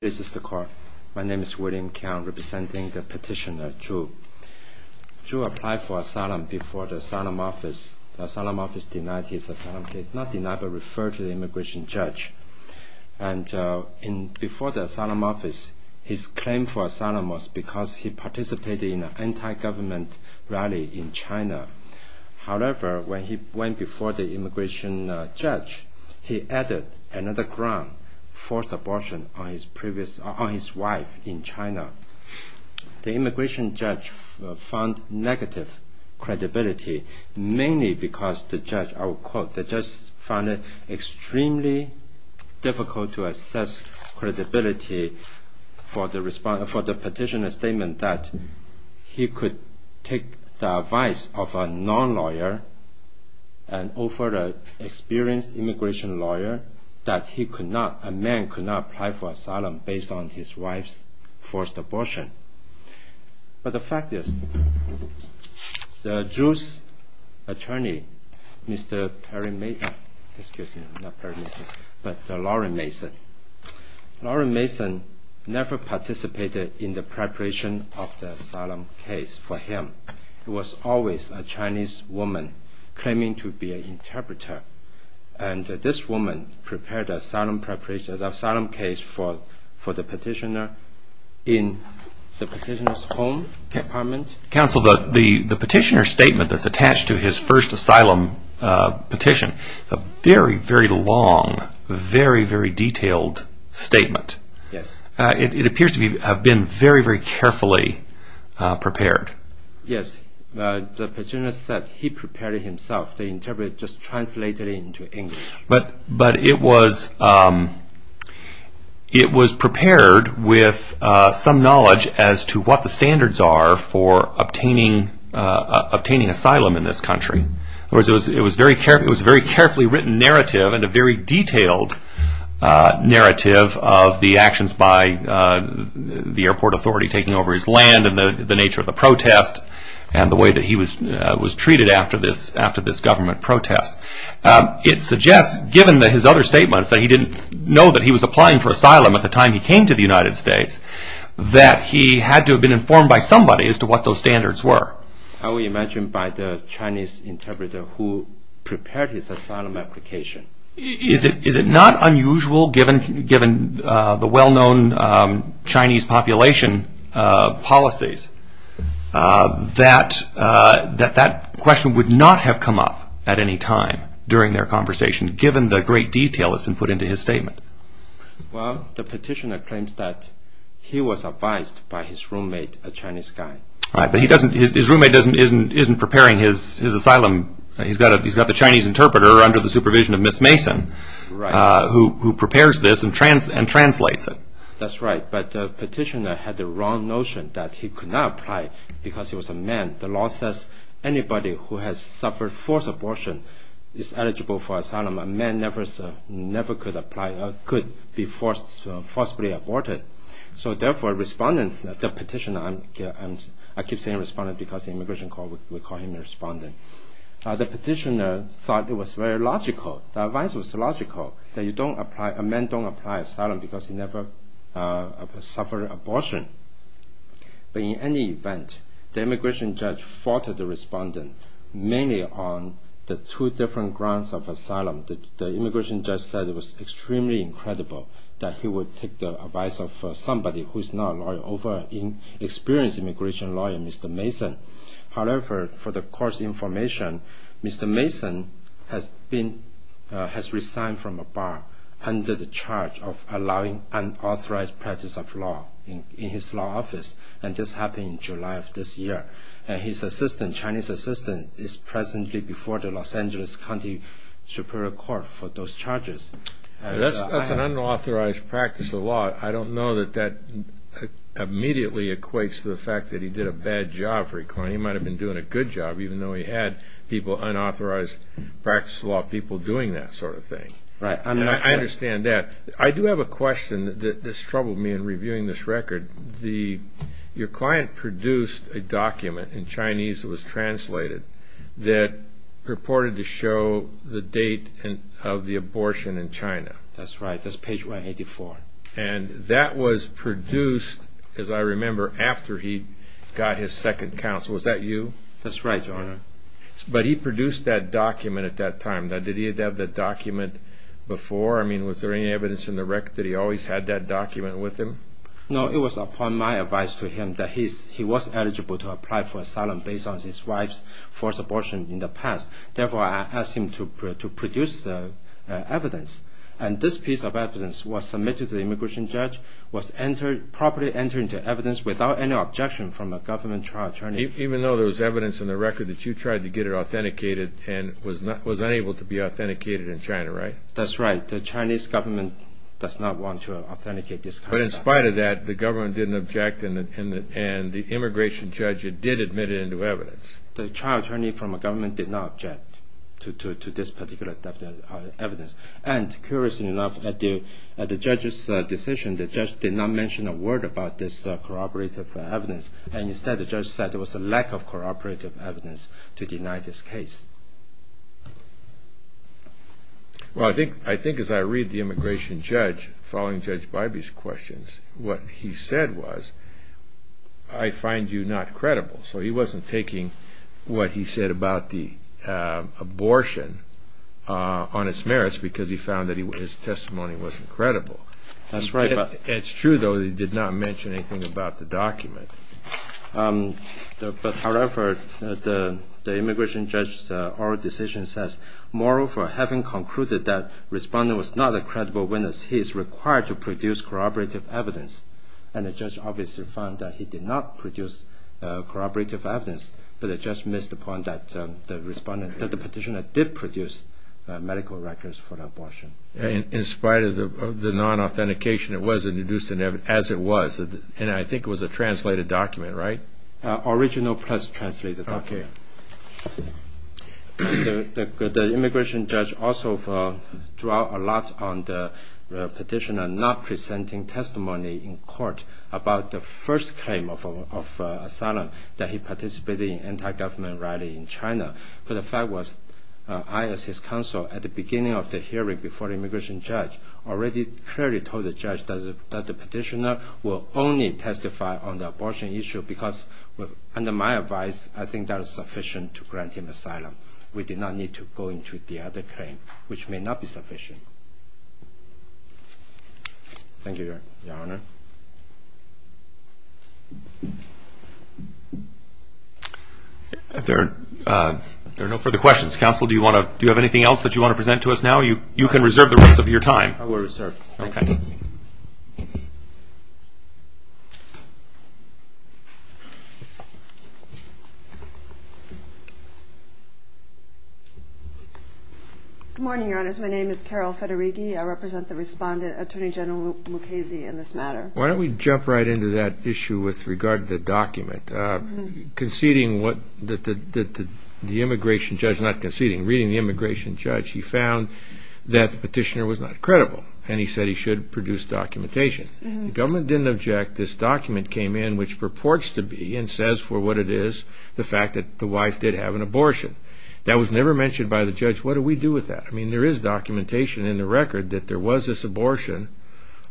This is the court. My name is William Keong, representing the petitioner, Zhu. Zhu applied for asylum before the asylum office. The asylum office denied his asylum case. Not denied, but referred to the immigration judge. And before the asylum office, his claim for asylum was because he participated in an anti-government rally in China. However, when he went before the immigration judge, he added another ground, forced abortion on his wife in China. The immigration judge found negative credibility, mainly because the judge, I will quote, difficult to assess credibility for the petitioner's statement that he could take the advice of a non-lawyer, an over-experienced immigration lawyer, that a man could not apply for asylum based on his wife's forced abortion. But the fact is, Zhu's attorney, Mr. Laurie Mason, never participated in the preparation of the asylum case for him. It was always a Chinese woman claiming to be an interpreter. And this woman prepared the asylum case for the petitioner in the petitioner's home apartment. Counsel, the petitioner's statement that's attached to his first asylum petition, a very, very long, very, very detailed statement. Yes. It appears to have been very, very carefully prepared. Yes. The petitioner said he prepared it himself. The interpreter just translated it into English. But it was prepared with some knowledge as to what the standards are for obtaining asylum in this country. It was a very carefully written narrative and a very detailed narrative of the actions by the airport authority taking over his land and the nature of the protest and the way that he was treated after this government protest. It suggests, given his other statements, that he didn't know that he was applying for asylum at the time he came to the United States, that he had to have been informed by somebody as to what those standards were. I would imagine by the Chinese interpreter who prepared his asylum application. Is it not unusual, given the well-known Chinese population policies, that that question would not have come up at any time during their conversation, given the great detail that's been put into his statement? Well, the petitioner claims that he was advised by his roommate, a Chinese guy. His roommate isn't preparing his asylum. He's got the Chinese interpreter under the supervision of Ms. Mason, who prepares this and translates it. That's right. But the petitioner had the wrong notion that he could not apply because he was a man. The law says anybody who has suffered forced abortion is eligible for asylum. A man never could be forcibly aborted. So, therefore, the petitioner thought it was very logical, the advice was logical, that a man don't apply for asylum because he never suffered abortion. But in any event, the immigration judge faulted the respondent, mainly on the two different grounds of asylum. The immigration judge said it was extremely incredible that he would take the advice of somebody who is not a lawyer, an experienced immigration lawyer, Mr. Mason. However, for the court's information, Mr. Mason has resigned from a bar under the charge of allowing unauthorized practice of law in his law office, and this happened in July of this year. His assistant, Chinese assistant, is presently before the Los Angeles County Superior Court for those charges. That's an unauthorized practice of law. I don't know that that immediately equates to the fact that he did a bad job for his client. He might have been doing a good job, even though he had unauthorized practice of law people doing that sort of thing. Right. I understand that. I do have a question that has troubled me in reviewing this record. Your client produced a document in Chinese that was translated that purported to show the date of the abortion in China. That's right. That's page 184. And that was produced, as I remember, after he got his second counsel. Was that you? That's right, Your Honor. But he produced that document at that time. Now, did he have that document before? I mean, was there any evidence in the record that he always had that document with him? No, it was upon my advice to him that he was eligible to apply for asylum based on his wife's forced abortion in the past. Therefore, I asked him to produce evidence. And this piece of evidence was submitted to the immigration judge, was properly entered into evidence without any objection from a government trial attorney. Even though there was evidence in the record that you tried to get it authenticated and was unable to be authenticated in China, right? The Chinese government does not want to authenticate this kind of document. But in spite of that, the government didn't object, and the immigration judge did admit it into evidence. The trial attorney from the government did not object to this particular evidence. And, curiously enough, at the judge's decision, the judge did not mention a word about this corroborative evidence. Instead, the judge said there was a lack of corroborative evidence to deny this case. Well, I think as I read the immigration judge, following Judge Bybee's questions, what he said was, I find you not credible. So he wasn't taking what he said about the abortion on its merits because he found that his testimony wasn't credible. That's right. It's true, though, that he did not mention anything about the document. However, the immigration judge's oral decision says, moreover, having concluded that the respondent was not a credible witness, he is required to produce corroborative evidence. And the judge obviously found that he did not produce corroborative evidence, but the judge missed the point that the petitioner did produce medical records for the abortion. In spite of the non-authentication, it was introduced as it was. And I think it was a translated document, right? Original plus translated document. Okay. The immigration judge also drew a lot on the petitioner not presenting testimony in court about the first claim of asylum that he participated in an anti-government rally in China. But the fact was, I as his counsel, at the beginning of the hearing before the immigration judge, already clearly told the judge that the petitioner will only testify on the abortion issue because, under my advice, I think that is sufficient to grant him asylum. We did not need to go into the other claim, which may not be sufficient. Thank you, Your Honor. If there are no further questions, counsel, do you have anything else that you want to present to us now? You can reserve the rest of your time. I will reserve. Okay. Good morning, Your Honors. My name is Carol Federighi. I represent the respondent, Attorney General Mukasey, in this matter. Why don't we jump right into that issue with regard to the document. Conceding what the immigration judge, not conceding, reading the immigration judge, he found that the petitioner was not credible and he said he should produce documentation. The government didn't object. This document came in, which purports to be and says for what it is, the fact that the wife did have an abortion. That was never mentioned by the judge. What do we do with that? I mean, there is documentation in the record that there was this abortion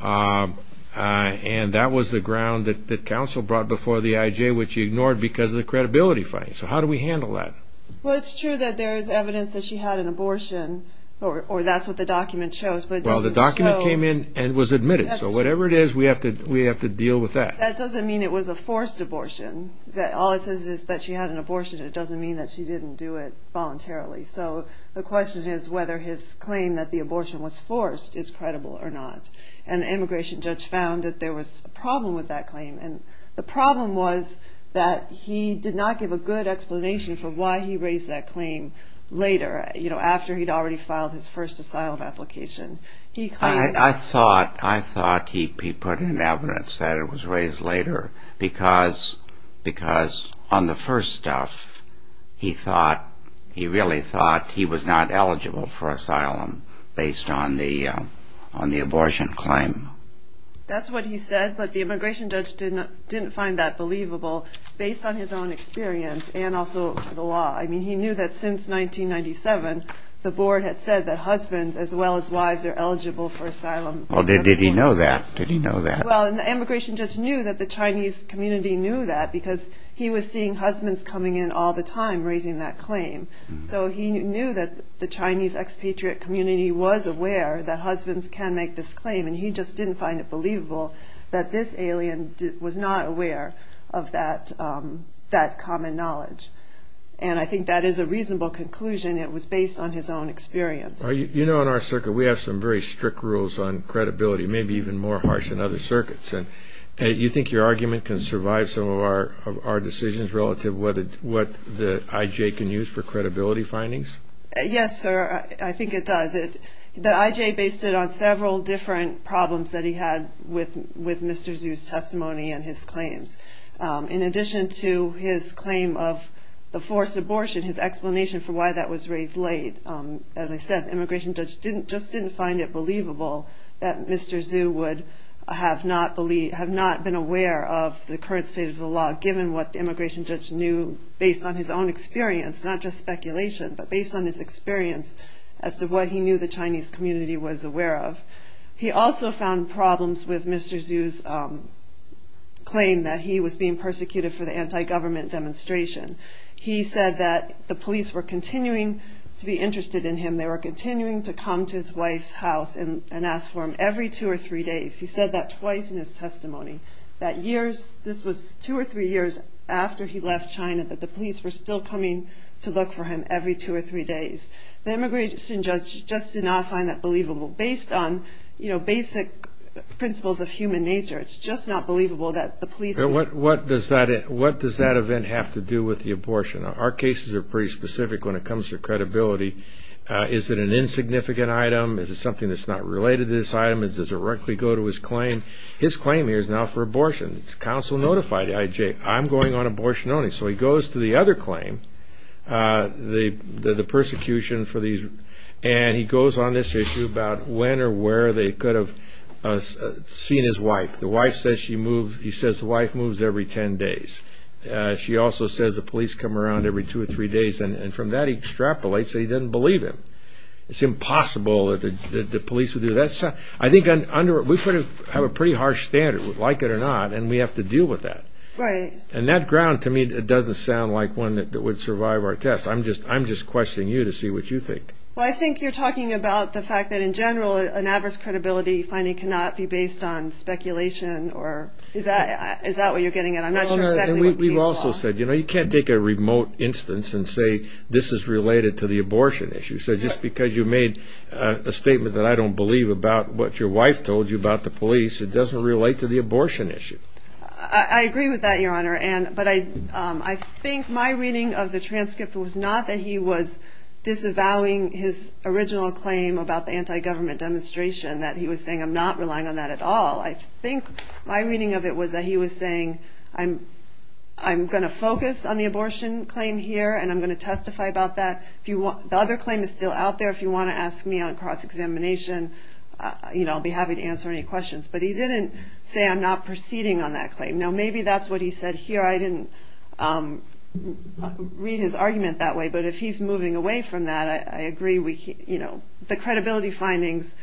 and that was the ground that counsel brought before the IJ, which he ignored because of the credibility fight. So how do we handle that? Well, it's true that there is evidence that she had an abortion or that's what the document shows. Well, the document came in and was admitted. So whatever it is, we have to deal with that. That doesn't mean it was a forced abortion. All it says is that she had an abortion. It doesn't mean that she didn't do it voluntarily. So the question is whether his claim that the abortion was forced is credible or not. And the immigration judge found that there was a problem with that claim. And the problem was that he did not give a good explanation for why he raised that claim later, after he'd already filed his first asylum application. I thought he put in evidence that it was raised later because on the first stuff, he really thought he was not eligible for asylum based on the abortion claim. That's what he said. But the immigration judge didn't find that believable based on his own experience and also the law. I mean, he knew that since 1997, the board had said that husbands as well as wives are eligible for asylum. Well, did he know that? Did he know that? Well, the immigration judge knew that the Chinese community knew that because he was seeing husbands coming in all the time raising that claim. So he knew that the Chinese expatriate community was aware that husbands can make this claim. And he just didn't find it believable that this alien was not aware of that common knowledge. And I think that is a reasonable conclusion. It was based on his own experience. You know, in our circuit, we have some very strict rules on credibility, maybe even more harsh than other circuits. And you think your argument can survive some of our decisions relative to what the IJ can use for credibility findings? Yes, sir. I think it does. The IJ based it on several different problems that he had with Mr. Zhu's testimony and his claims. In addition to his claim of the forced abortion, his explanation for why that was raised late, as I said, the immigration judge just didn't find it believable that Mr. Zhu would have not been aware of the current state of the law given what the immigration judge knew based on his own experience, not just speculation, but based on his experience as to what he knew the Chinese community was aware of. He also found problems with Mr. Zhu's claim that he was being persecuted for the anti-government demonstration. He said that the police were continuing to be interested in him. They were continuing to come to his wife's house and ask for him every two or three days. He said that twice in his testimony, that years, this was two or three years after he left China, that the police were still coming to look for him every two or three days. The immigration judge just did not find that believable. Based on basic principles of human nature, it's just not believable that the police... What does that event have to do with the abortion? Our cases are pretty specific when it comes to credibility. Is it an insignificant item? Is it something that's not related to this item? Does it directly go to his claim? His claim here is now for abortion. The counsel notified IJ, I'm going on abortion only. So he goes to the other claim, the persecution for these... And he goes on this issue about when or where they could have seen his wife. The wife says the wife moves every ten days. She also says the police come around every two or three days, and from that he extrapolates that he doesn't believe him. It's impossible that the police would do that. We have a pretty harsh standard, like it or not, and we have to deal with that. And that ground to me doesn't sound like one that would survive our test. I'm just questioning you to see what you think. I think you're talking about the fact that in general an adverse credibility finding cannot be based on speculation. Is that what you're getting at? We've also said you can't take a remote instance and say this is related to the abortion issue. So just because you made a statement that I don't believe about what your wife told you about the police, it doesn't relate to the abortion issue. I agree with that, Your Honor, but I think my reading of the transcript was not that he was disavowing his original claim about the anti-government demonstration, that he was saying I'm not relying on that at all. I think my reading of it was that he was saying I'm going to focus on the abortion claim here, and I'm going to testify about that. The other claim is still out there. If you want to ask me on cross-examination, I'll be happy to answer any questions. But he didn't say I'm not proceeding on that claim. Now maybe that's what he said here. I didn't read his argument that way, but if he's moving away from that, I agree. The credibility findings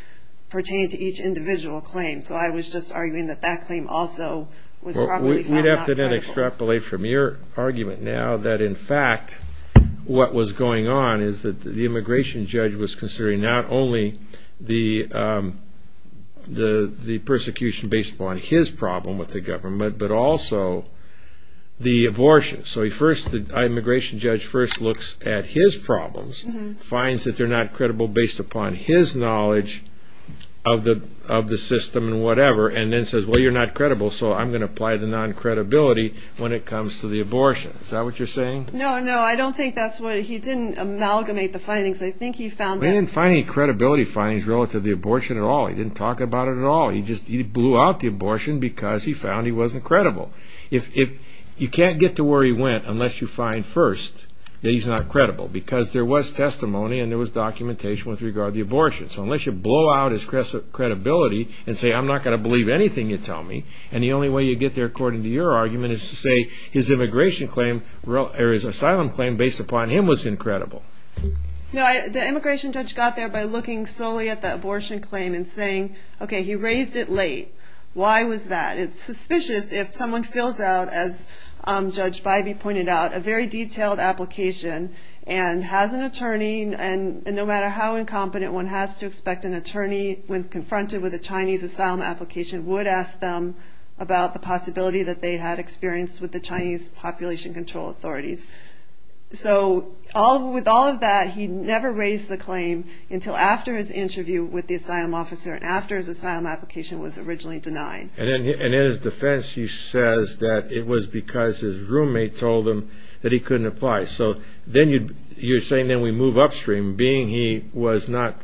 pertain to each individual claim. So I was just arguing that that claim also was probably not credible. We'd have to then extrapolate from your argument now that in fact what was going on is that the immigration judge was considering not only the persecution based upon his problem with the government, but also the abortion. So the immigration judge first looks at his problems, finds that they're not credible based upon his knowledge of the system and whatever, and then says, well, you're not credible, so I'm going to apply the non-credibility when it comes to the abortion. Is that what you're saying? No, no, I don't think that's what he did. He didn't amalgamate the findings. I think he found that... He didn't find any credibility findings relative to the abortion at all. He didn't talk about it at all. He just blew out the abortion because he found he wasn't credible. You can't get to where he went unless you find first that he's not credible because there was testimony and there was documentation with regard to the abortion. So unless you blow out his credibility and say I'm not going to believe anything you tell me, and the only way you get there according to your argument is to say his asylum claim based upon him was incredible. The immigration judge got there by looking solely at the abortion claim and saying, okay, he raised it late. Why was that? It's suspicious if someone fills out, as Judge Bybee pointed out, a very detailed application and has an attorney, and no matter how incompetent one has to expect an attorney when confronted with a Chinese asylum application would ask them about the possibility that they had experience with the Chinese population control authorities. So with all of that, he never raised the claim until after his interview with the asylum officer and after his asylum application was originally denied. And in his defense he says that it was because his roommate told him that he couldn't apply. So you're saying then we move upstream, being he was not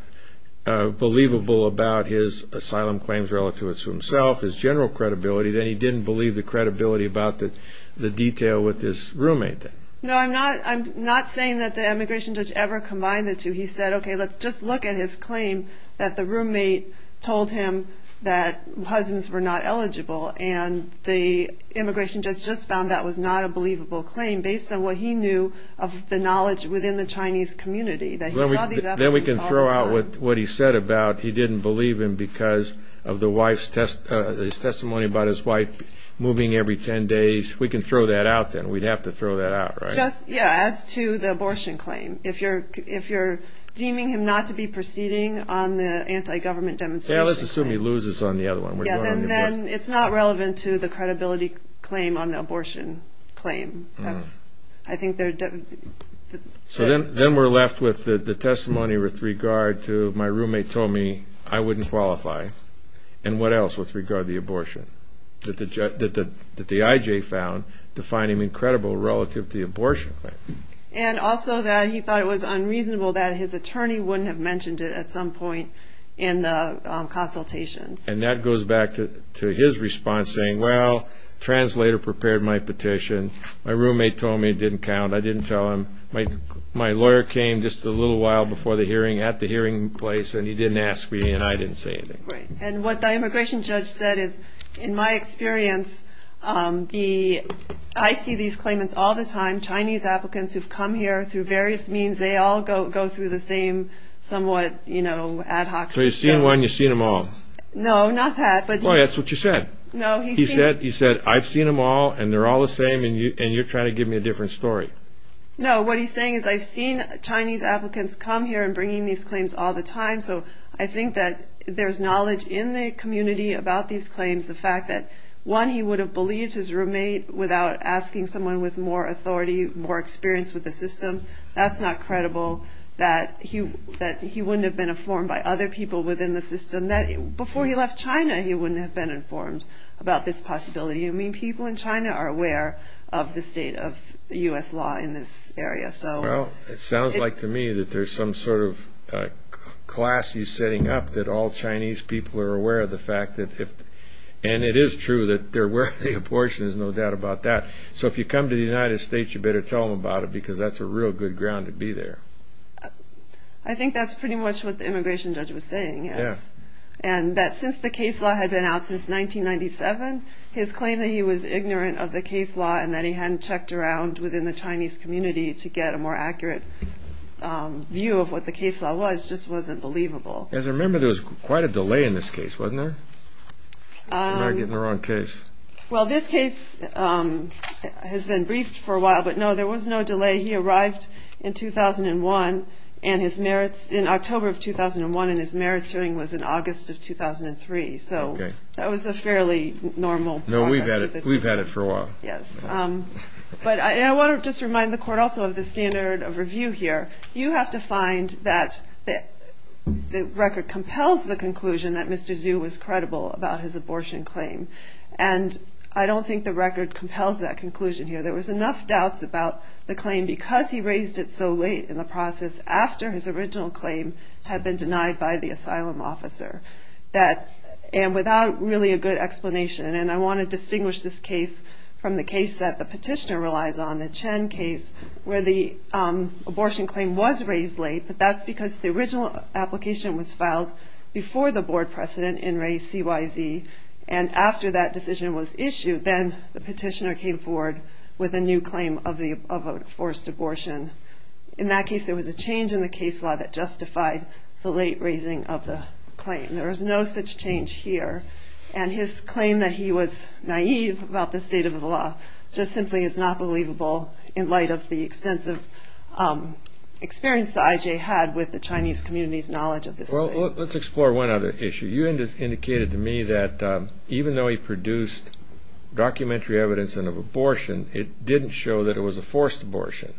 believable about his asylum claims relative to himself, his general credibility, then he didn't believe the credibility about the detail with his roommate. No, I'm not saying that the immigration judge ever combined the two. He said, okay, let's just look at his claim that the roommate told him that husbands were not eligible, and the immigration judge just found that was not a believable claim based on what he knew of the knowledge within the Chinese community that he saw these applicants all the time. Then we can throw out what he said about he didn't believe him because of his testimony about his wife moving every 10 days. We can throw that out then. We'd have to throw that out, right? Yeah, as to the abortion claim. If you're deeming him not to be proceeding on the anti-government demonstration claim. Yeah, let's assume he loses on the other one. Then it's not relevant to the credibility claim on the abortion claim. So then we're left with the testimony with regard to my roommate told me I wouldn't qualify, and what else with regard to the abortion that the IJ found to find him incredible relative to the abortion claim. And also that he thought it was unreasonable that his attorney wouldn't have mentioned it at some point in the consultations. And that goes back to his response saying, well, the translator prepared my petition. My roommate told me it didn't count. I didn't tell him. My lawyer came just a little while before the hearing at the hearing place, and he didn't ask me, and I didn't say anything. And what the immigration judge said is, in my experience, I see these claimants all the time, Chinese applicants who've come here through various means. They all go through the same somewhat ad hoc. So you've seen one, you've seen them all. No, not that. Boy, that's what you said. He said, I've seen them all, and they're all the same, and you're trying to give me a different story. No, what he's saying is I've seen Chinese applicants come here and bringing these claims all the time, so I think that there's knowledge in the community about these claims, the fact that, one, he would have believed his roommate without asking someone with more authority, more experience with the system. That's not credible, that he wouldn't have been informed by other people within the system. Before he left China, he wouldn't have been informed about this possibility. I mean, people in China are aware of the state of U.S. law in this area. Well, it sounds like to me that there's some sort of class he's setting up that all Chinese people are aware of the fact that, and it is true that they're aware of the abortion, there's no doubt about that. So if you come to the United States, you better tell them about it because that's a real good ground to be there. I think that's pretty much what the immigration judge was saying, yes, and that since the case law had been out since 1997, his claim that he was ignorant of the case law and that he hadn't checked around within the Chinese community to get a more accurate view of what the case law was just wasn't believable. As I remember, there was quite a delay in this case, wasn't there? Am I getting the wrong case? Well, this case has been briefed for a while, but no, there was no delay. He arrived in 2001 and his merits in October of 2001 and his merits hearing was in August of 2003, so that was a fairly normal process. No, we've had it for a while. Yes, but I want to just remind the court also of the standard of review here. You have to find that the record compels the conclusion that Mr. Zhu was credible about his abortion claim, and I don't think the record compels that conclusion here. There was enough doubts about the claim because he raised it so late in the process after his original claim had been denied by the asylum officer and without really a good explanation, and I want to distinguish this case from the case that the petitioner relies on, the Chen case, where the abortion claim was raised late, but that's because the original application was filed before the board precedent in Ray CYZ, and after that decision was issued, then the petitioner came forward with a new claim of a forced abortion. In that case, there was a change in the case law that justified the late raising of the claim. There was no such change here, and his claim that he was naive about the state of the law just simply is not believable in light of the extensive experience that I.J. had with the Chinese community's knowledge of this claim. Well, let's explore one other issue. You indicated to me that even though he produced documentary evidence of an abortion, it didn't show that it was a forced abortion.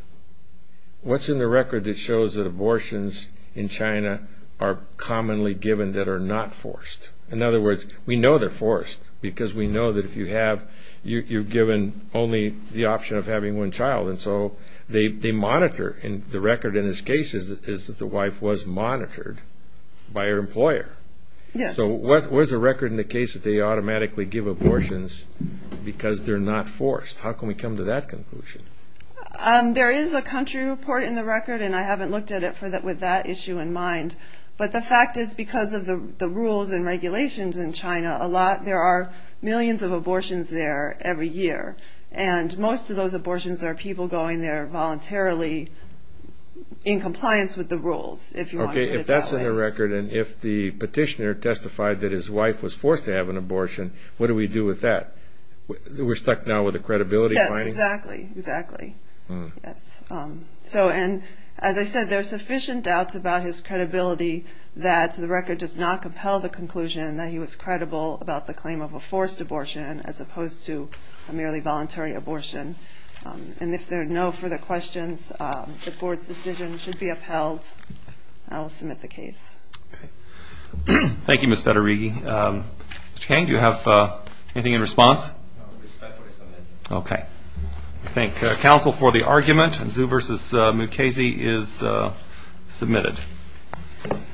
What's in the record that shows that abortions in China are commonly given that are not forced? In other words, we know they're forced because we know that if you have, you're given only the option of having one child, and so they monitor, and the record in this case is that the wife was monitored by her employer. Yes. So what was the record in the case that they automatically give abortions because they're not forced? How can we come to that conclusion? There is a country report in the record, and I haven't looked at it with that issue in mind, but the fact is because of the rules and regulations in China, there are millions of abortions there every year, and most of those abortions are people going there voluntarily in compliance with the rules, if you want to put it that way. Okay, if that's in the record, and if the petitioner testified that his wife was forced to have an abortion, what do we do with that? We're stuck now with the credibility finding? Yes, exactly, exactly. And as I said, there are sufficient doubts about his credibility that the record does not compel the conclusion that he was credible about the claim of a forced abortion as opposed to a merely voluntary abortion. And if there are no further questions, the Board's decision should be upheld, and I will submit the case. Okay. Thank you, Ms. Federighi. Mr. Kang, do you have anything in response? I respectfully submit. Okay. I thank counsel for the argument, and Zhu v. Mukasey is submitted.